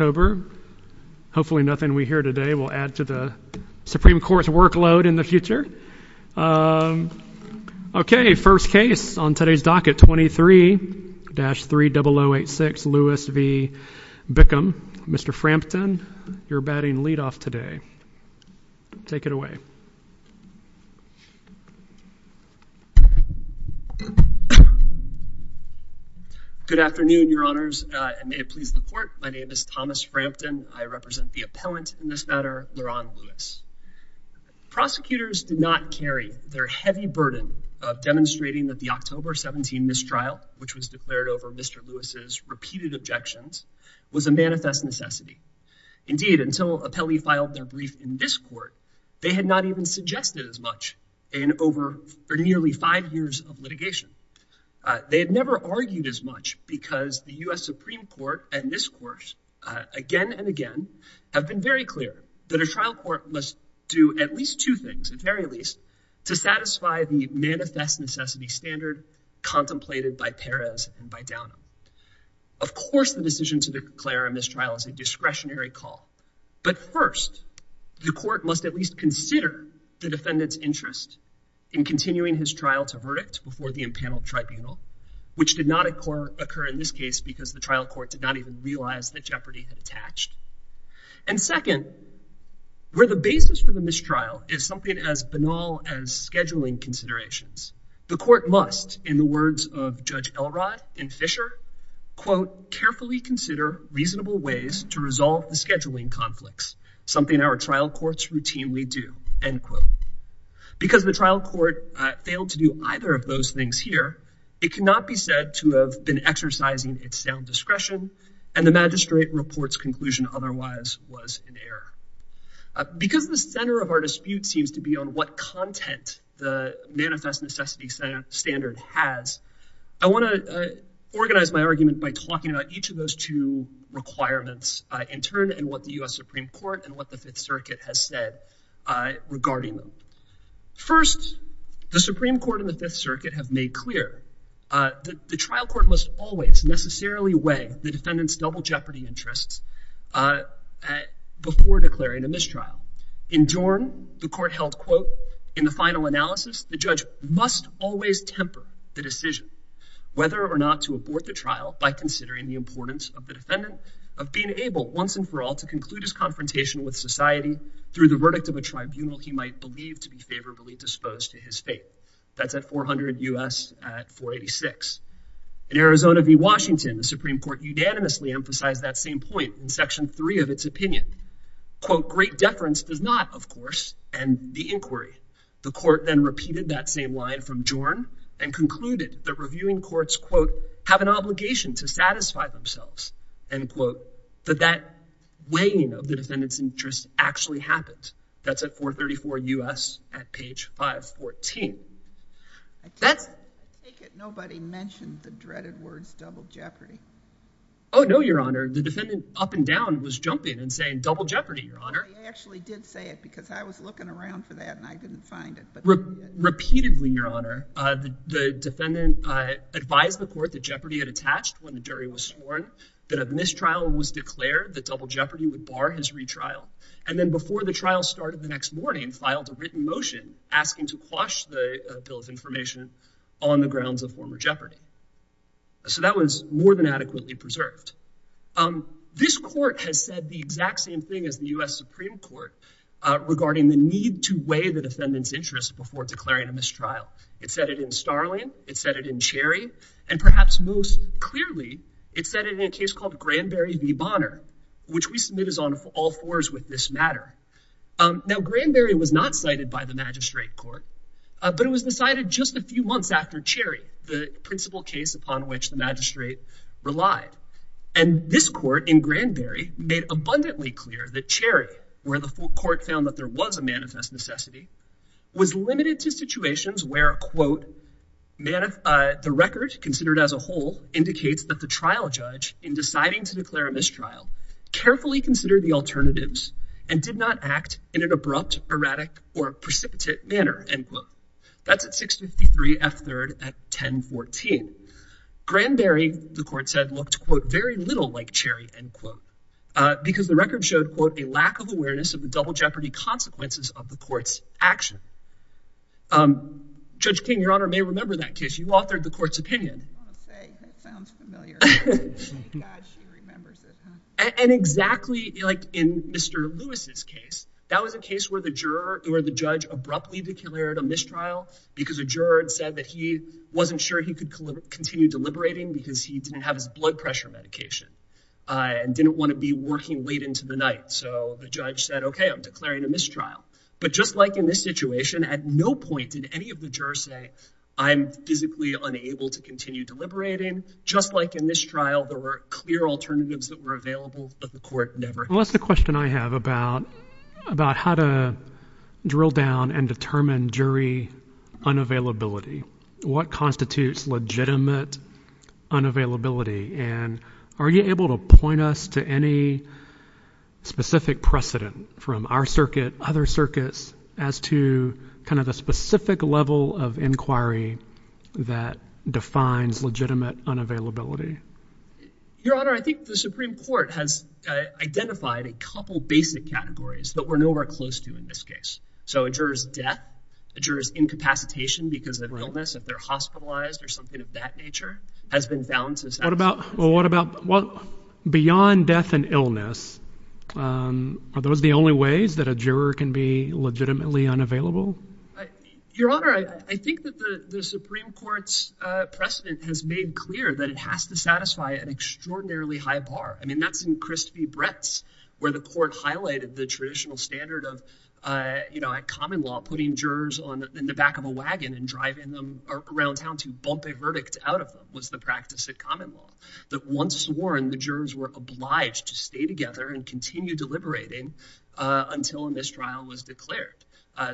October. Hopefully nothing we hear today will add to the Supreme Court's workload in the future. Okay, first case on today's docket 23-30086 Lewis v. Bickham. Mr. Frampton, you're batting lead off today. Take it away. Good afternoon, your honors, and may it please the court. My name is Thomas Frampton. I represent the appellant in this matter, Le'Ron Lewis. Prosecutors did not carry their heavy burden of demonstrating that the October 17 mistrial, which was declared over Mr. Lewis's repeated objections, was a manifest necessity. Indeed, until appellee filed their brief in this court, they had not even suggested as much in over or nearly five years of litigation. They had never argued as much because the US Supreme Court at this course, again and again, have been very clear that a trial court must do at least two things, at very least, to satisfy the manifest necessity standard contemplated by Perez and by Downham. Of course, the decision to declare a mistrial is a discretionary call. But first, the court must at least consider the defendant's interest in continuing his trial to verdict before the impaneled tribunal, which did not occur in this case because the trial court did not even realize that jeopardy had attached. And second, where the basis for the mistrial is something as banal as scheduling considerations, the court must, in the words of Judge Elrod in Fisher, quote, carefully consider reasonable ways to resolve the scheduling conflicts, something our trial courts routinely do, end quote. Because the trial court failed to do either of those things here, it cannot be said to have been exercising its sound discretion and the magistrate report's conclusion otherwise was an error. Because the center of our dispute seems to be on what content the manifest necessity standard has, I want to organize my argument by talking about each of those two requirements in turn and what the US Supreme Court and what the Fifth Circuit has said regarding them. First, the Supreme Court and the Fifth Circuit have made clear that the trial court must always necessarily weigh the defendant's double jeopardy interests before declaring a mistrial. In Dorn, the court held, quote, in the final analysis, the judge must always temper the decision whether or not to abort the trial by considering the importance of the defendant of being able once and for all to conclude his confrontation with society through the verdict of a tribunal he might believe to be favorably disposed to his fate. That's at 400 U.S. at 486. In Arizona v. Washington, the Supreme Court unanimously emphasized that same point in section three of its opinion. Quote, great deference does not, of course, end the inquiry. The court then repeated that same line from Dorn and concluded that reviewing courts, quote, have an obligation to satisfy themselves. End quote. But that weighing of the defendant's interest actually happens. That's at 434 U.S. at page 514. That's. I take it nobody mentioned the dreaded words double jeopardy. Oh, no, Your Honor. The defendant up and down was jumping and saying double jeopardy, Your Honor. I actually did say it because I was looking around for that and I didn't find it. Repeatedly, Your Honor, the defendant advised the court that jeopardy had attached when the jury was sworn, that a mistrial was declared, that double jeopardy would bar his retrial. And then before the trial started the next morning, filed a written motion asking to quash the bill of information on the grounds of former jeopardy. So that was more than adequately preserved. This court has said the exact same thing as the U.S. Supreme Court regarding the need to weigh the defendant's interest before declaring a mistrial. It said it in Starling. It said it in Cherry. And perhaps most clearly, it said it in a case called Granberry v. Bonner, which we submit as on all fours with this matter. Now, Granberry was not cited by the magistrate court, but it was decided just a few months after Cherry, the principal case upon which the magistrate relied. And this court in Granberry made abundantly clear that Cherry, where the court found that there was manifest necessity, was limited to situations where, quote, the record considered as a whole indicates that the trial judge in deciding to declare a mistrial carefully considered the alternatives and did not act in an abrupt, erratic, or precipitate manner, end quote. That's at 653 F. 3rd at 1014. Granberry, the court said, looked, quote, very little like Cherry, end quote, because the record showed, quote, a lack of awareness of the double jeopardy consequences of the court's action. Judge King, Your Honor, may remember that case. You authored the court's opinion. I want to say that sounds familiar. Thank God she remembers it. And exactly like in Mr. Lewis's case, that was a case where the juror or the judge abruptly declared a mistrial because a juror had said that he wasn't sure he could continue deliberating because he didn't have blood pressure medication and didn't want to be working late into the night. So the judge said, OK, I'm declaring a mistrial. But just like in this situation, at no point did any of the jurors say I'm physically unable to continue deliberating. Just like in this trial, there were clear alternatives that were available, but the court never. Well, that's the question I have about how to drill down and determine jury unavailability. What constitutes legitimate unavailability? And are you able to point us to any specific precedent from our circuit, other circuits, as to kind of the specific level of inquiry that defines legitimate unavailability? Your Honor, I think the Supreme Court has identified a couple of basic categories that we're nowhere close to in this case. So a juror's death, a juror's incapacitation because of illness, if they're hospitalized or something of that nature, has been found to satisfy. Well, what about beyond death and illness? Are those the only ways that a juror can be legitimately unavailable? Your Honor, I think that the Supreme Court's precedent has made clear that it has to satisfy an extraordinarily high bar. I mean, that's in Christie Brett's, where the court highlighted the traditional standard of, you know, at common law, putting jurors in the back of a wagon and driving them around town to bump a verdict out of them was the practice at common law. That once sworn, the jurors were obliged to stay together and continue deliberating until a mistrial was declared.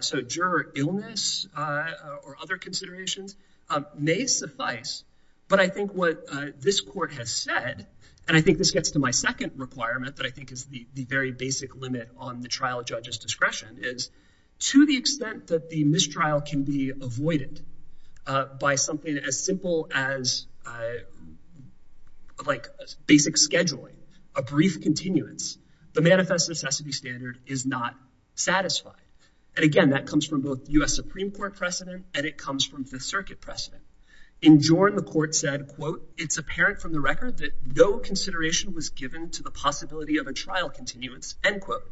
So juror illness or other considerations may suffice. But I think what this court has said, and I think this gets to my second requirement that I think is the very basic limit on the trial judge's discretion, is to the extent that the mistrial can be avoided by something as simple as like basic scheduling, a brief continuance, the manifest necessity standard is not satisfied. And again, that comes from both U.S. Supreme Court precedent and it comes from Fifth Circuit precedent. In Jordan, the court said, quote, it's apparent from the record that no consideration was given to the possibility of a trial continuance, end quote.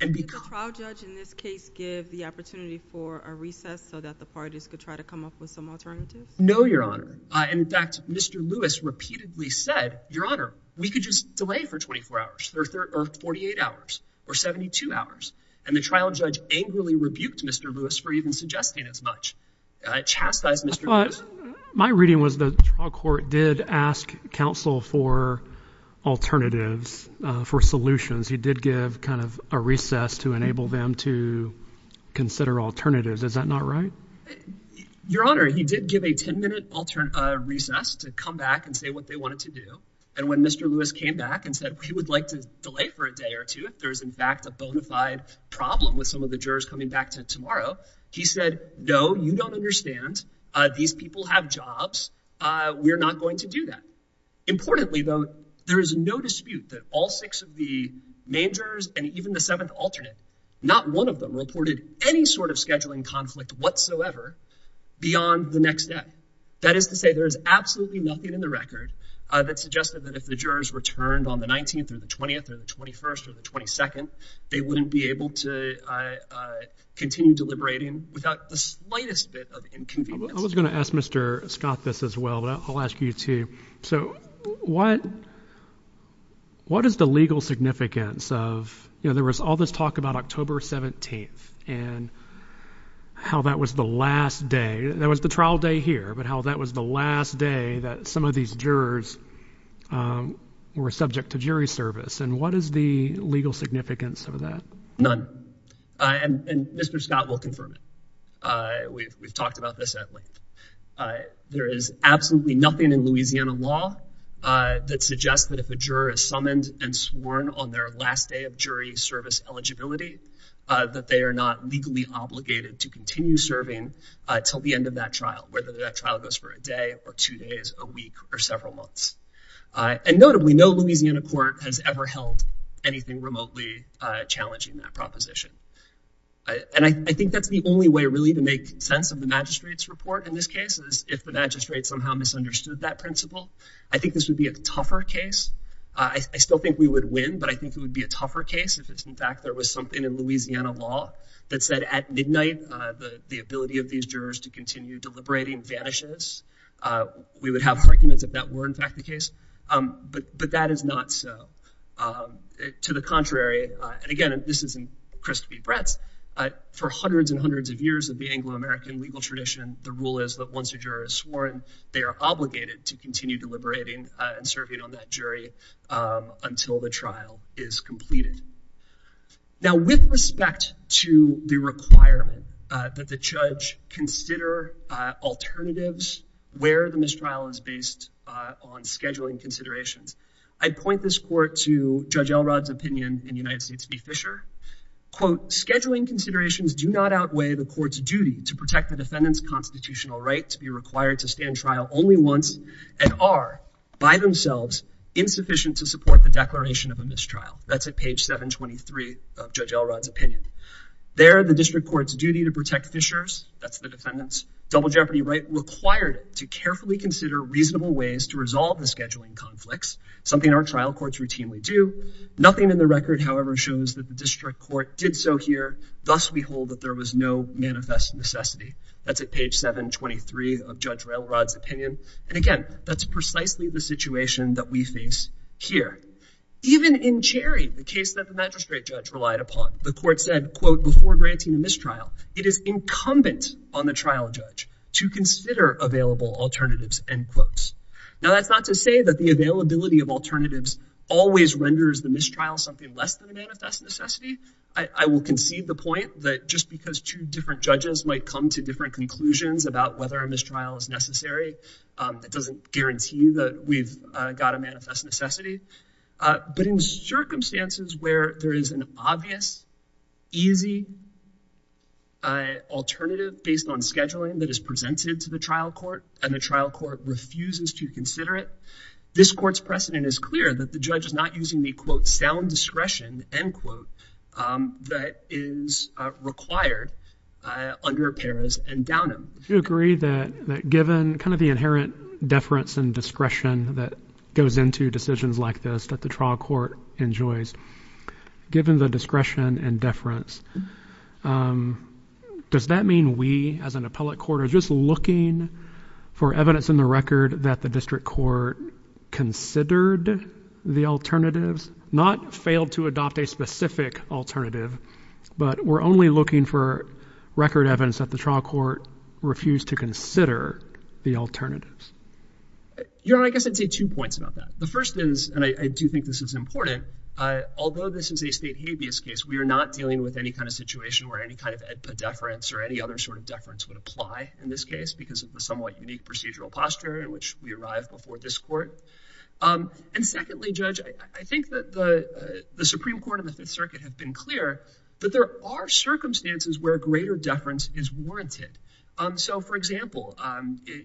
And the trial judge, in this case, give the opportunity for a recess so that the parties could try to come up with some alternatives? No, Your Honor. In fact, Mr. Lewis repeatedly said, Your Honor, we could just delay for 24 hours or 48 hours or 72 hours. And the trial judge angrily rebuked Mr. Lewis for even suggesting as chastised Mr. Lewis. My reading was the trial court did ask counsel for alternatives, for solutions. He did give kind of a recess to enable them to consider alternatives. Is that not right? Your Honor, he did give a 10 minute recess to come back and say what they wanted to do. And when Mr. Lewis came back and said he would like to delay for a day or two, if there is in fact a bona fide problem with some of the jurors coming back to tomorrow, he said, no, you don't understand. These people have jobs. We're not going to do that. Importantly, though, there is no dispute that all six of the main jurors and even the seventh alternate, not one of them reported any sort of scheduling conflict whatsoever beyond the next day. That is to say, there is absolutely nothing in the record that suggested that if the jurors returned on the 19th or the 20th or the 21st or the 22nd, they wouldn't be without the slightest bit of inconvenience. I was going to ask Mr. Scott this as well, but I'll ask you to. So what what is the legal significance of there was all this talk about October 17th and how that was the last day that was the trial day here, but how that was the last day that some of these jurors were subject to jury service. And what is the legal significance of none? And Mr. Scott will confirm it. We've talked about this at length. There is absolutely nothing in Louisiana law that suggests that if a juror is summoned and sworn on their last day of jury service eligibility, that they are not legally obligated to continue serving till the end of that trial, whether that trial goes for a day or two days, a week or several months. And notably, no Louisiana court has ever held anything remotely challenging that proposition. And I think that's the only way really to make sense of the magistrate's report in this case, is if the magistrate somehow misunderstood that principle. I think this would be a tougher case. I still think we would win, but I think it would be a tougher case if it's in fact there was something in Louisiana law that said at midnight, the ability of these jurors to continue deliberating vanishes. We would have arguments if that were in fact the case. But that is not so. To the contrary, and again, this isn't Christie Brett's, for hundreds and hundreds of years of the Anglo-American legal tradition, the rule is that once a juror is sworn, they are obligated to continue deliberating and serving on that jury until the trial is completed. Now, with respect to the requirement that the judge consider alternatives where the mistrial is based on scheduling considerations, I'd point this court to Judge Elrod's opinion in United States v. Fisher. Quote, scheduling considerations do not outweigh the court's duty to protect the defendant's constitutional right to be required to stand trial only once and are by themselves insufficient to support the declaration of a mistrial. That's at page 723 of Judge Elrod's opinion. There, the district court's duty to protect Fisher's, that's the defendant's, double jeopardy right required to carefully consider reasonable ways to resolve the scheduling conflicts, something our trial courts routinely do. Nothing in the record, however, shows that the district court did so here. Thus, we hold that there was no manifest necessity. That's at page 723 of Judge Elrod's opinion. And again, that's the case that the magistrate judge relied upon. The court said, quote, before granting a mistrial, it is incumbent on the trial judge to consider available alternatives, end quote. Now, that's not to say that the availability of alternatives always renders the mistrial something less than the manifest necessity. I will concede the point that just because two different judges might come to different conclusions about whether a mistrial is necessary, that doesn't guarantee that we've got a manifest necessity. But in circumstances where there is an obvious, easy alternative based on scheduling that is presented to the trial court, and the trial court refuses to consider it, this court's precedent is clear that the judge is not using the, quote, sound discretion, end quote, that is required under Paris and Downham. Do you agree that given kind of the inherent deference and discretion that goes into decisions like this that the trial court enjoys, given the discretion and deference, does that mean we, as an appellate court, are just looking for evidence in the record that the district court considered the alternatives, not failed to adopt a specific alternative, but we're only looking for record evidence that the trial court refused to consider the alternatives? You know, I guess I'd say two points about that. The first is, and I do think this is important, although this is a state habeas case, we are not dealing with any kind of situation where any kind of edpa deference or any other sort of deference would apply in this case, because of the somewhat unique procedural posture in which we arrive before this court. And secondly, Judge, I think that the Supreme Court and the Fifth Court, but there are circumstances where greater deference is warranted. So, for example,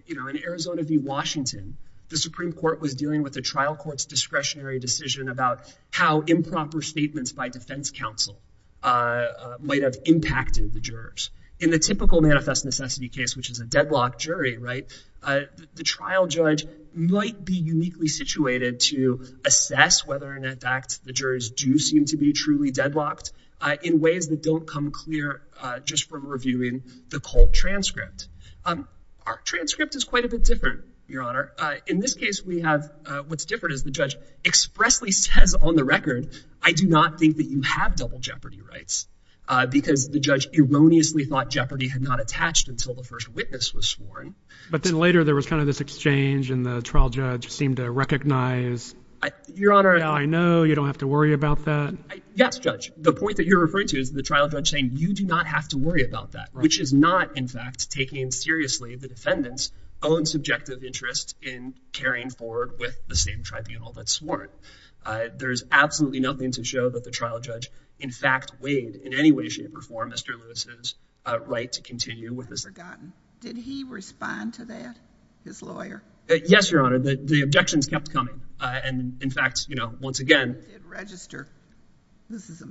you know, in Arizona v. Washington, the Supreme Court was dealing with the trial court's discretionary decision about how improper statements by defense counsel might have impacted the jurors. In the typical manifest necessity case, which is a deadlocked jury, right, the trial judge might be uniquely situated to assess whether or not the jurors do seem to be truly deadlocked in ways that don't come clear just from reviewing the cold transcript. Our transcript is quite a bit different, Your Honor. In this case, we have, what's different is the judge expressly says on the record, I do not think that you have double jeopardy rights, because the judge erroneously thought jeopardy had not attached until the first witness was sworn. But then later there was kind of this exchange and the trial judge seemed to recognize, Your Honor, I know you don't have to worry about that. Yes, Judge. The point that you're referring to is the trial judge saying you do not have to worry about that, which is not, in fact, taking seriously the defendant's own subjective interest in carrying forward with the same tribunal that's sworn. There's absolutely nothing to show that the trial judge, in fact, weighed in any way, shape, or form Mr. Lewis's right to continue with the forgotten. Did he respond to that, his lawyer? Yes, Your Honor. The objections kept coming. And in fact, you know, once again. He did register.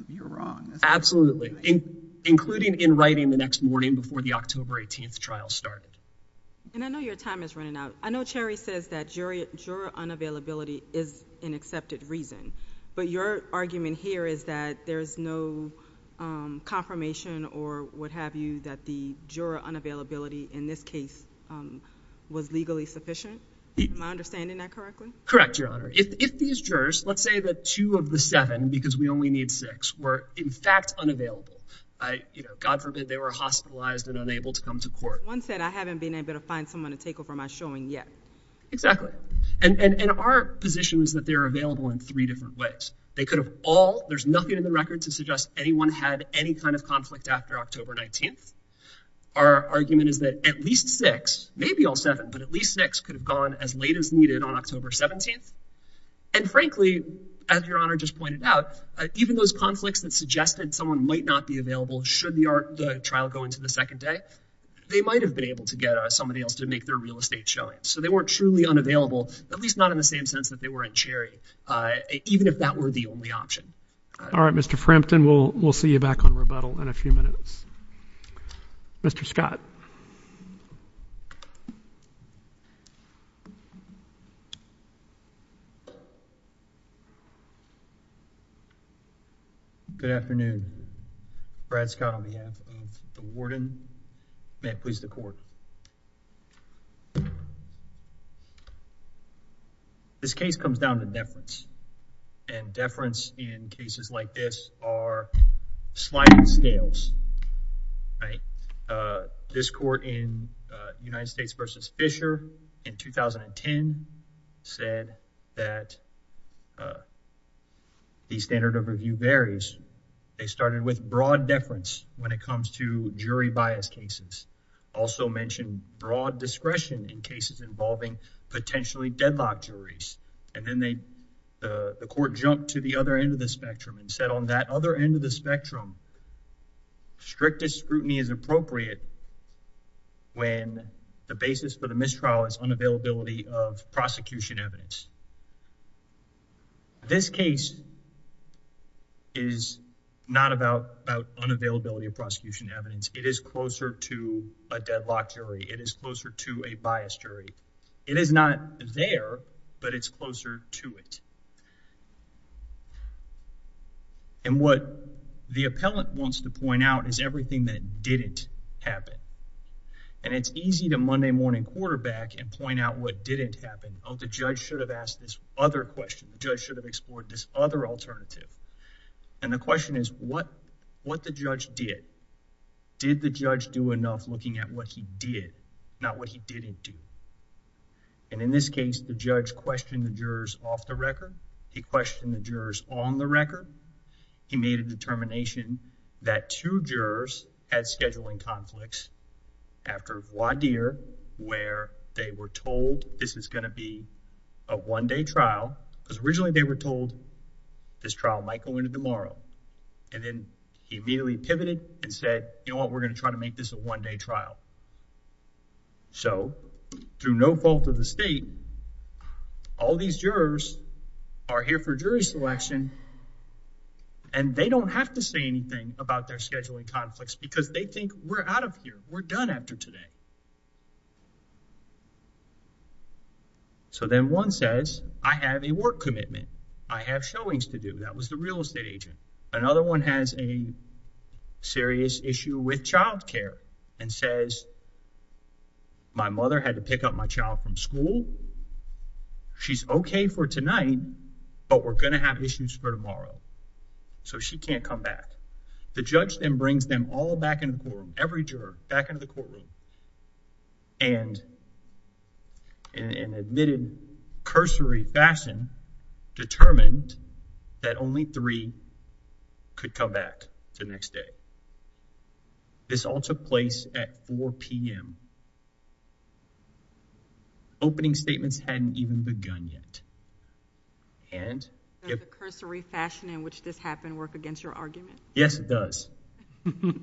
You're wrong. Absolutely. Including in writing the next morning before the October 18th trial started. And I know your time is running out. I know Cherry says that juror unavailability is an accepted reason. But your argument here is that there's no confirmation or what have you that the My understanding that correctly? Correct, Your Honor. If these jurors, let's say that two of the seven, because we only need six, were in fact unavailable, you know, God forbid they were hospitalized and unable to come to court. One said, I haven't been able to find someone to take over my showing yet. Exactly. And our position is that they're available in three different ways. They could have all, there's nothing in the record to suggest anyone had any kind of conflict after October 19th. Our argument is that at least six, maybe all seven, but at least six could have gone as late as needed on October 17th. And frankly, as Your Honor just pointed out, even those conflicts that suggested someone might not be available should the trial go into the second day, they might have been able to get somebody else to make their real estate showing. So they weren't truly unavailable, at least not in the same sense that they were in Cherry, even if that were the only option. All right, Mr. Frampton, we'll see you back on rebuttal in a few minutes. Mr. Scott. Good afternoon. Brad Scott on behalf of the warden. May it please the court. This case comes down to deference, and deference in cases like this are sliding scales, right? This court in United States v. Fisher in 2010 said that the standard of review varies. They started with broad deference when it comes to jury bias cases, also mentioned broad discretion in cases involving potentially deadlocked juries. And then the court jumped to the other end of the spectrum and said on that other end of the spectrum strictest scrutiny is appropriate when the basis for the mistrial is unavailability of prosecution evidence. This case is not about unavailability of prosecution evidence. It is closer to a deadlocked jury. It is closer to a biased jury. It is not there, but it's closer to it. And what the appellant wants to point out is everything that didn't happen. And it's easy to Monday morning quarterback and point out what didn't happen. Oh, the judge should have asked this other question. The judge should have explored this other alternative. And the question is what the judge did. Did the judge do enough looking at what he did, not what he didn't do? And in this he questioned the jurors on the record. He made a determination that two jurors had scheduling conflicts after voir dire where they were told this is going to be a one-day trial, because originally they were told this trial might go into tomorrow. And then he immediately pivoted and said, you know what, we're going to try to make this a one-day trial. So through no fault of the state, all these jurors are here for jury selection and they don't have to say anything about their scheduling conflicts because they think we're out of here. We're done after today. So then one says, I have a work commitment. I have showings to do. That was the real estate agent. Another one has a serious issue with child care and says, my mother had to pick up my child from school. She's okay for tonight, but we're going to have issues for tomorrow. So she can't come back. The judge then brings them all back into the courtroom, every juror back into the courtroom, and in an admitted cursory fashion determined that only three could come back to the next day. This all took place at 4 p.m. Opening statements hadn't even begun yet. Does the cursory fashion in which this happened work against your argument? Yes, it does. The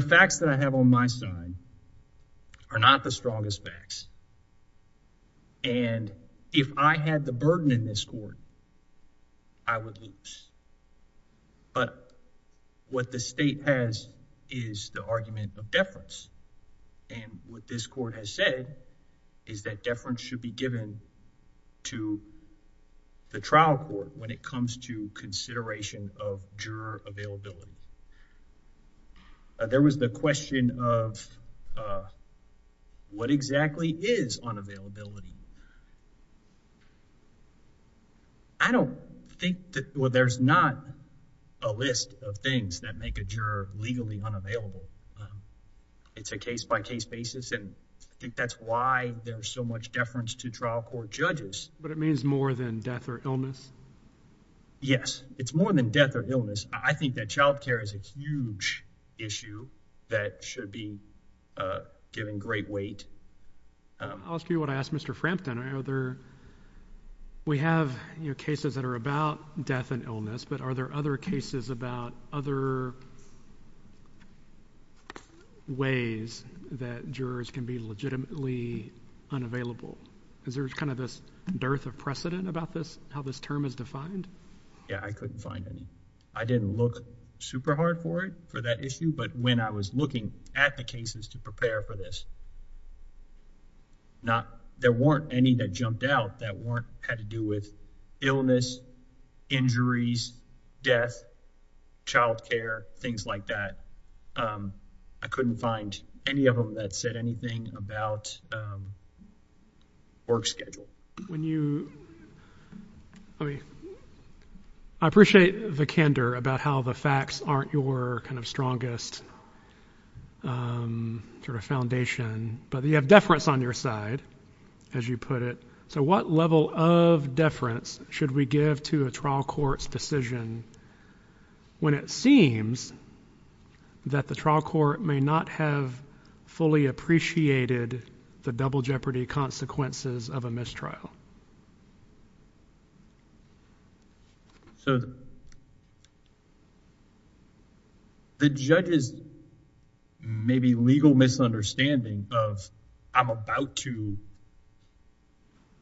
facts that I have on my side are not the strongest facts. And if I had the burden in this court, I would lose. But what the state has is the argument of deference. And what this court has said is that deference should be given to the trial court when it comes to consideration of juror availability. There was the question of what exactly is unavailability? I don't think that there's not a list of things that make a juror legally unavailable. It's a case-by-case basis, and I think that's why there's so much deference to trial court judges. But it means more than death or illness? Yes, it's more than death or illness. I think that child care is a huge issue that should be given great weight. I'll ask you what I asked Mr. Frampton. We have cases that are about death and illness, but are there other cases about other ways that jurors can be legitimately unavailable? Is there kind of this dearth of precedent about this, how this term is defined? Yeah, I couldn't find any. I didn't look super hard for it, for that issue, but when I was looking at the cases to prepare for this, there weren't any that jumped out that had to do with illness, injuries, death, child care, things like that. I couldn't find any of them that said anything about work schedule. When you, I mean, I appreciate the candor about how the facts aren't your kind of strongest sort of foundation, but you have deference on your side, as you put it. So what level of deference should we give to a trial court's decision when it seems that the trial court may not have fully appreciated the double jeopardy consequences of a mistrial? So the judge's maybe legal misunderstanding of, I'm about to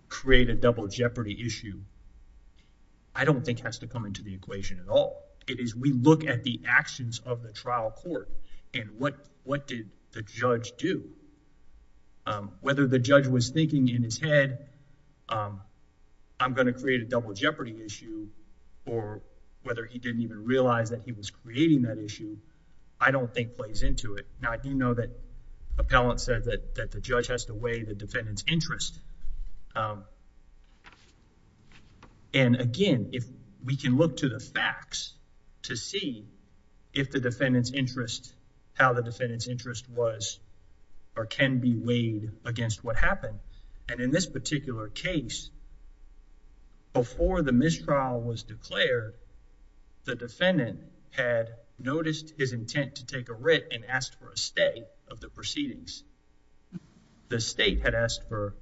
create a double jeopardy issue, I don't think has to come into the equation at all. It is we look at the actions of the trial court and what did the judge do whether the judge was thinking in his head, I'm going to create a double jeopardy issue, or whether he didn't even realize that he was creating that issue, I don't think plays into it. Now, I do know that appellant said that the judge has to weigh the defendant's interest. And again, if we can look to the facts to see if the defendant's interest, how the defendant's interest was, or can be weighed against what happened. And in this particular case, before the mistrial was declared, the defendant had noticed his intent to take a writ and asked for a stay of the proceedings. The state had asked for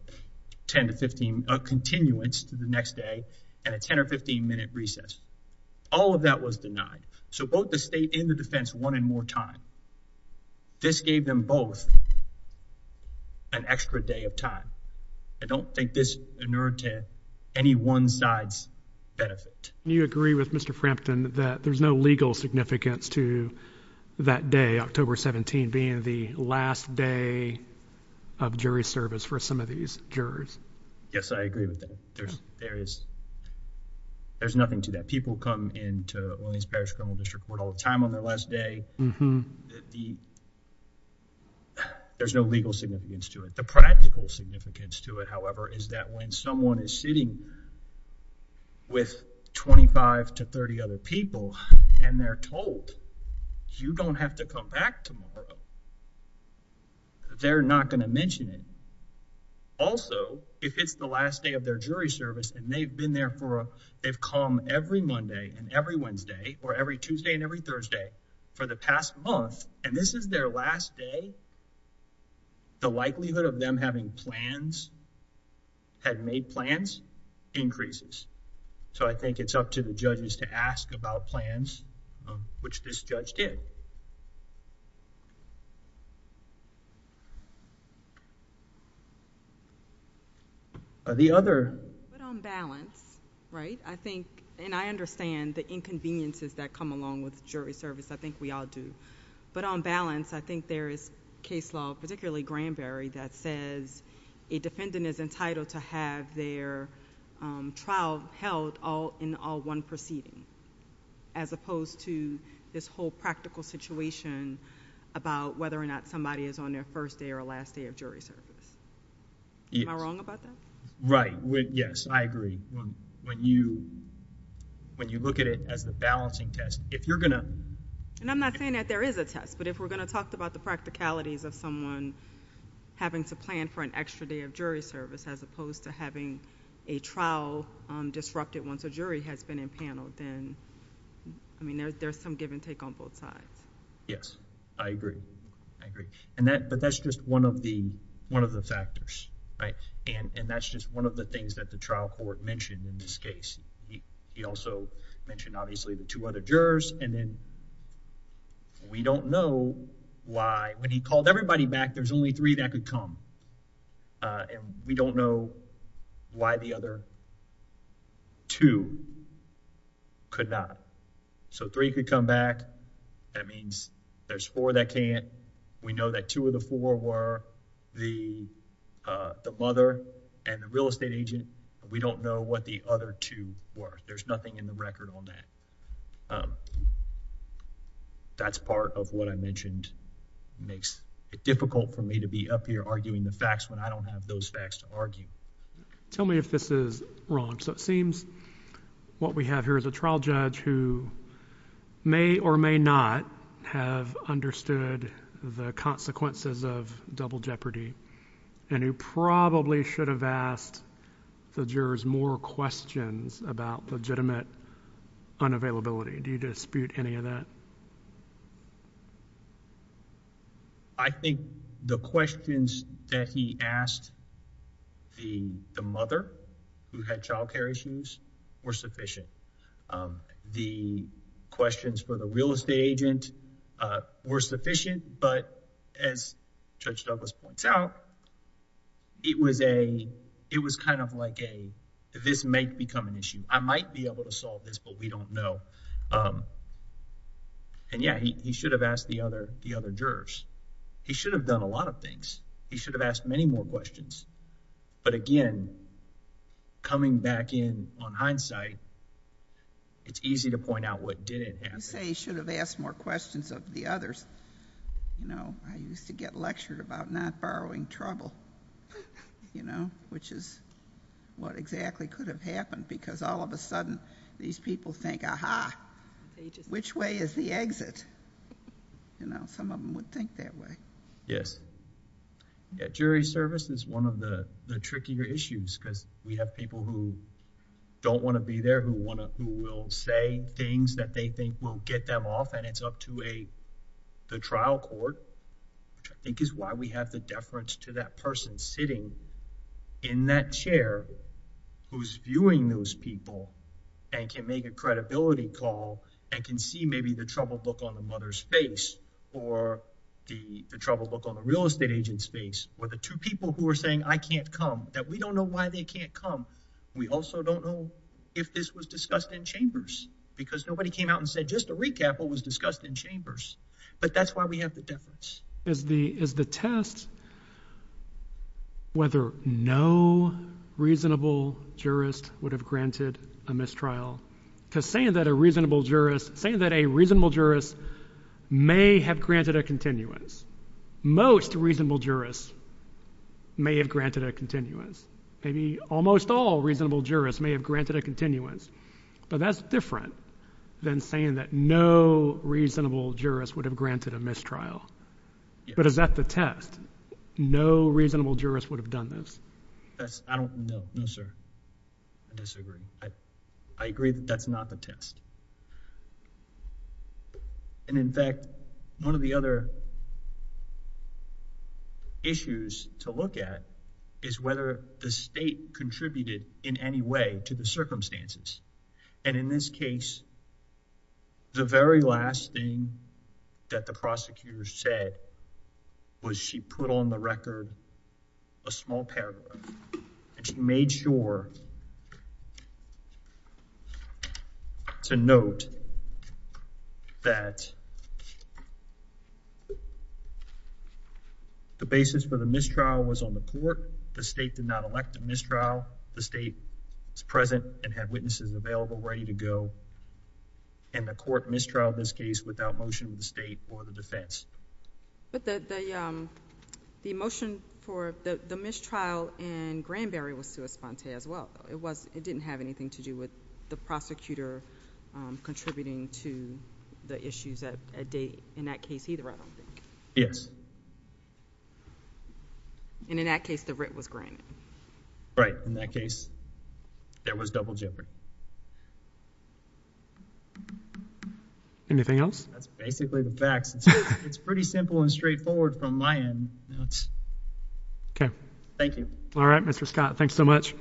10 to 15, a continuance to the next day and a 10 or 15 minute recess. All of that was denied. So both the state and the defense wanted more time. This gave them both an extra day of time. I don't think this inured to any one side's benefit. And you agree with Mr. Frampton that there's no legal significance to that day, October 17, being the last day of jury service for some of these jurors. Yes, I agree with that. There's nothing to that. People come into Williams Parish Criminal District Court all the time on their last day. There's no legal significance to it. The practical significance to it, however, is that when someone is sitting with 25 to 30 other people and they're told, you don't have to come back tomorrow, that they're not going to mention it. Also, if it's the last day of their jury service and they've been there for, they've come every Monday and every Wednesday or every Tuesday and every Thursday for the past month, and this is their last day, the likelihood of them having plans, had made plans, increases. So I think it's up to the judges to ask about plans, which this judge did. But on balance, right, I think, and I understand the inconveniences that come along with jury service. I think we all do. But on balance, I think there is case law, particularly Granberry, that says a defendant is entitled to have their trial held in all one proceeding, as opposed to this whole practical situation about whether or not somebody is on their first day or last day of jury service. Am I wrong about that? Right. Yes, I agree. When you look at it as the balancing test, if you're going to... And I'm not saying that there is a test, but if we're going to talk about the practicalities of someone having to plan for an extra day of jury service, as opposed to having a trial disrupted once a jury has been impaneled, then, I mean, there's some give and take on both sides. Yes, I agree. I agree. But that's just one of the factors, right? And that's just one of the things that the trial court mentioned in this case. He also mentioned, obviously, the two other jurors, and then we don't know why, when he called everybody back, there's only three that could come. And we don't know why the other two could not. So three could come back. That means there's four that can't. We know that two of the four were the mother and the real estate agent. We don't know what the other two were. There's nothing in the record on that. So that's part of what I mentioned makes it difficult for me to be up here arguing the facts when I don't have those facts to argue. Tell me if this is wrong. So it seems what we have here is a trial judge who may or may not have understood the consequences of double jeopardy, and who probably should have asked the jurors more questions about legitimate unavailability. Do you dispute any of that? I think the questions that he asked the mother who had child care issues were sufficient. The questions for the real estate agent were sufficient. But as Judge Douglas points out, it was kind of like a, this may become an issue. I might be able to solve this, but we don't know. And yeah, he should have asked the other jurors. He should have done a lot of things. He should have asked many more questions. But again, coming back in on hindsight, it's easy to point out what didn't happen. You say he should have asked more questions of the others. You know, I used to get lectured about not borrowing trouble, you know, which is what exactly could have happened because all of a sudden, these people think, aha, which way is the exit? You know, some of them would think that way. Yes. Yeah, jury service is one of the trickier issues because we have people who don't want to be there, who will say things that they think will get them off, and it's up to the trial court, which I think is why we have the deference to that person sitting in that chair who's viewing those people and can make a credibility call and can see maybe the troubled look on the mother's or the troubled look on the real estate agent's face or the two people who are saying I can't come, that we don't know why they can't come. We also don't know if this was discussed in chambers because nobody came out and said just to recap what was discussed in chambers. But that's why we have the deference. Is the test whether no reasonable jurist would have granted a mistrial? Because saying that saying that a reasonable jurist may have granted a continuance, most reasonable jurists may have granted a continuance. Maybe almost all reasonable jurists may have granted a continuance, but that's different than saying that no reasonable jurist would have granted a mistrial. But is that the test? No reasonable jurist would have done this? That's I don't know. No, sir. I disagree. I agree that that's not the test. And in fact, one of the other issues to look at is whether the state contributed in any way to the circumstances. And in this case, the very last thing that the prosecutor said was she put on the record a small paragraph and she made sure to note that the basis for the mistrial was on the court. The state did not elect a mistrial. The state is present and had witnesses available, ready to go. And the court mistrialed this case without motion of the state or the defense. But the motion for the mistrial in Granberry was sui sponte as well. It didn't have anything to do with the prosecutor contributing to the issues at date in that case either, I don't think. Yes. And in that case, the writ was granted. Right. In that case, there was double jeopardy. Anything else? That's basically the facts. It's pretty simple and straightforward from my end. Okay. Thank you. All right, Mr. Scott. Thanks so much.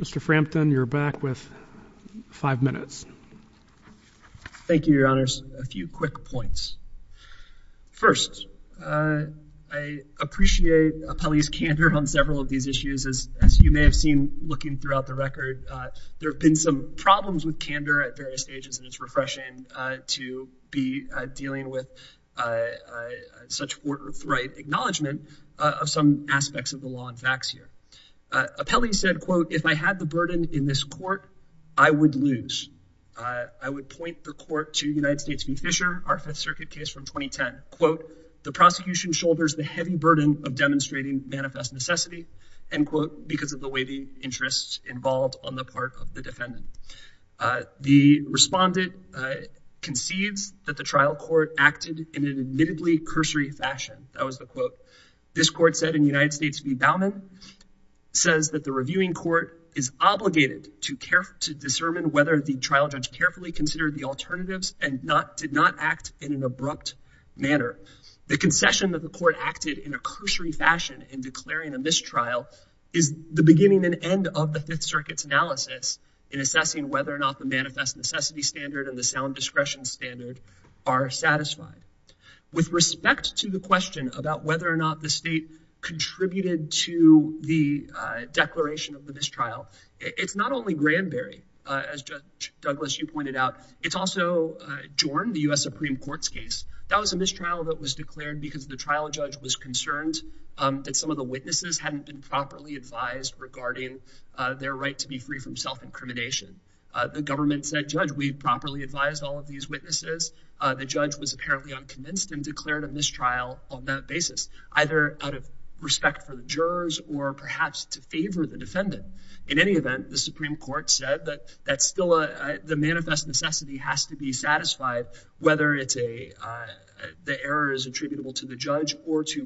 Mr. Frampton, you're back with five minutes. Thank you, Your Honors. A few quick points. First, I appreciate Appellee's candor on several of these issues. As you may have seen looking throughout the record, there have been some problems with candor at various stages, and it's refreshing to be dealing with such forthright acknowledgment of some aspects of the law and facts here. Appellee said, quote, if I had the burden in this court, I would lose. I would point the court to United States v. Fisher, our Fifth Circuit case from 2010. Quote, the prosecution shoulders the heavy burden of demonstrating manifest necessity, end quote, because of the interests involved on the part of the defendant. The respondent concedes that the trial court acted in an admittedly cursory fashion. That was the quote. This court said in United States v. Bauman, says that the reviewing court is obligated to discern whether the trial judge carefully considered the alternatives and did not act in an abrupt manner. The concession that the court acted in a cursory fashion in declaring a mistrial is the beginning and end of the Fifth Circuit's analysis in assessing whether or not the manifest necessity standard and the sound discretion standard are satisfied. With respect to the question about whether or not the state contributed to the declaration of the mistrial, it's not only Granberry, as Judge Douglas, you pointed out. It's also Jorn, the U.S. Supreme Court's case. That was a mistrial that was concerned that some of the witnesses hadn't been properly advised regarding their right to be free from self-incrimination. The government said, Judge, we properly advised all of these witnesses. The judge was apparently unconvinced and declared a mistrial on that basis, either out of respect for the jurors or perhaps to favor the defendant. In any event, the Supreme Court said that that's still the manifest necessity has to be satisfied, whether it's a the error is attributable to the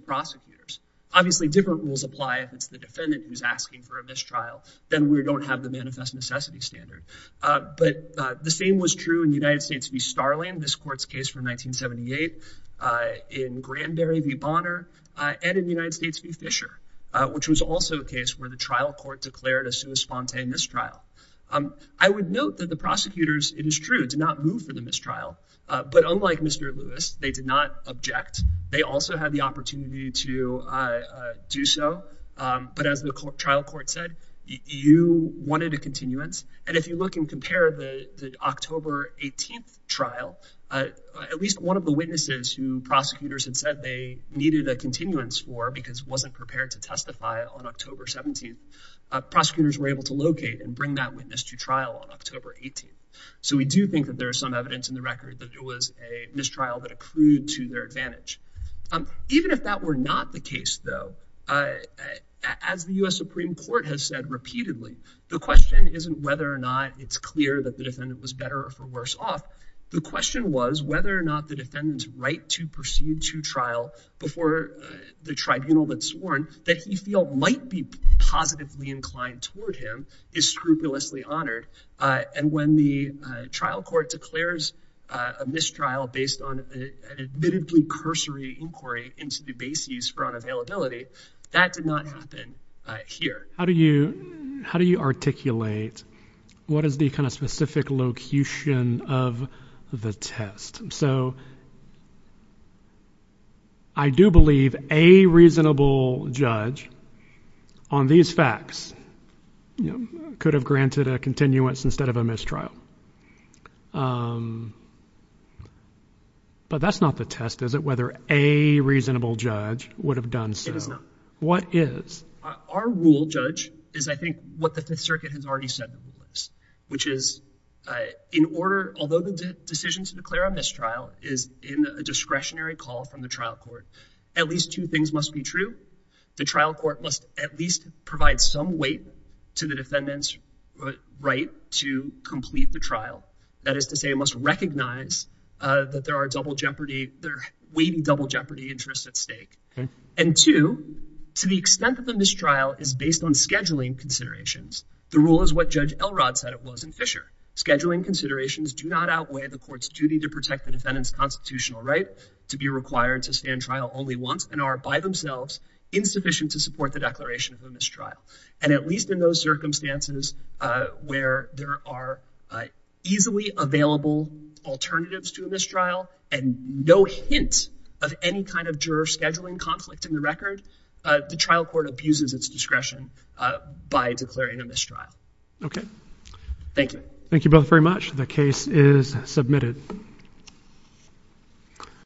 prosecutors. Obviously, different rules apply. If it's the defendant who's asking for a mistrial, then we don't have the manifest necessity standard. But the same was true in the United States v. Starling, this court's case from 1978, in Granberry v. Bonner, and in the United States v. Fisher, which was also a case where the trial court declared a sui sponte mistrial. I would note that the prosecutors, it is true, did not move for the mistrial. But unlike Mr. Lewis, they did not object. They also had the opportunity to do so. But as the trial court said, you wanted a continuance. And if you look and compare the October 18th trial, at least one of the witnesses who prosecutors had said they needed a continuance for because wasn't prepared to testify on October 17th, prosecutors were able to locate and bring that witness to trial on October 18th. So we do think that there is some evidence in the record that it was a mistrial that accrued to their advantage. Even if that were not the case, though, as the U.S. Supreme Court has said repeatedly, the question isn't whether or not it's clear that the defendant was better or for worse off. The question was whether or not the defendant's right to proceed to trial before the tribunal had sworn that he felt might be positively inclined toward him is scrupulously honored. And when the trial court declares a mistrial based on an admittedly cursory inquiry into the bases for unavailability, that did not happen here. How do you articulate what is the kind of judge on these facts could have granted a continuance instead of a mistrial? But that's not the test, is it? Whether a reasonable judge would have done so. What is our rule? Judge is, I think, what the Fifth Circuit has already said, which is in order, although the decision to declare a mistrial is in a discretionary call from the trial court, at least two things must be true. The trial court must at least provide some weight to the defendant's right to complete the trial. That is to say, it must recognize that there are double jeopardy, there are weighty double jeopardy interests at stake. And two, to the extent that the mistrial is based on scheduling considerations, the rule is what Judge Elrod said it was in Fisher. Scheduling considerations do not outweigh the court's duty to protect the defendant's and are by themselves insufficient to support the declaration of a mistrial. And at least in those circumstances where there are easily available alternatives to a mistrial and no hint of any kind of juror scheduling conflict in the record, the trial court abuses its discretion by declaring a mistrial. Okay. Thank you. Thank you both very much. The case is submitted.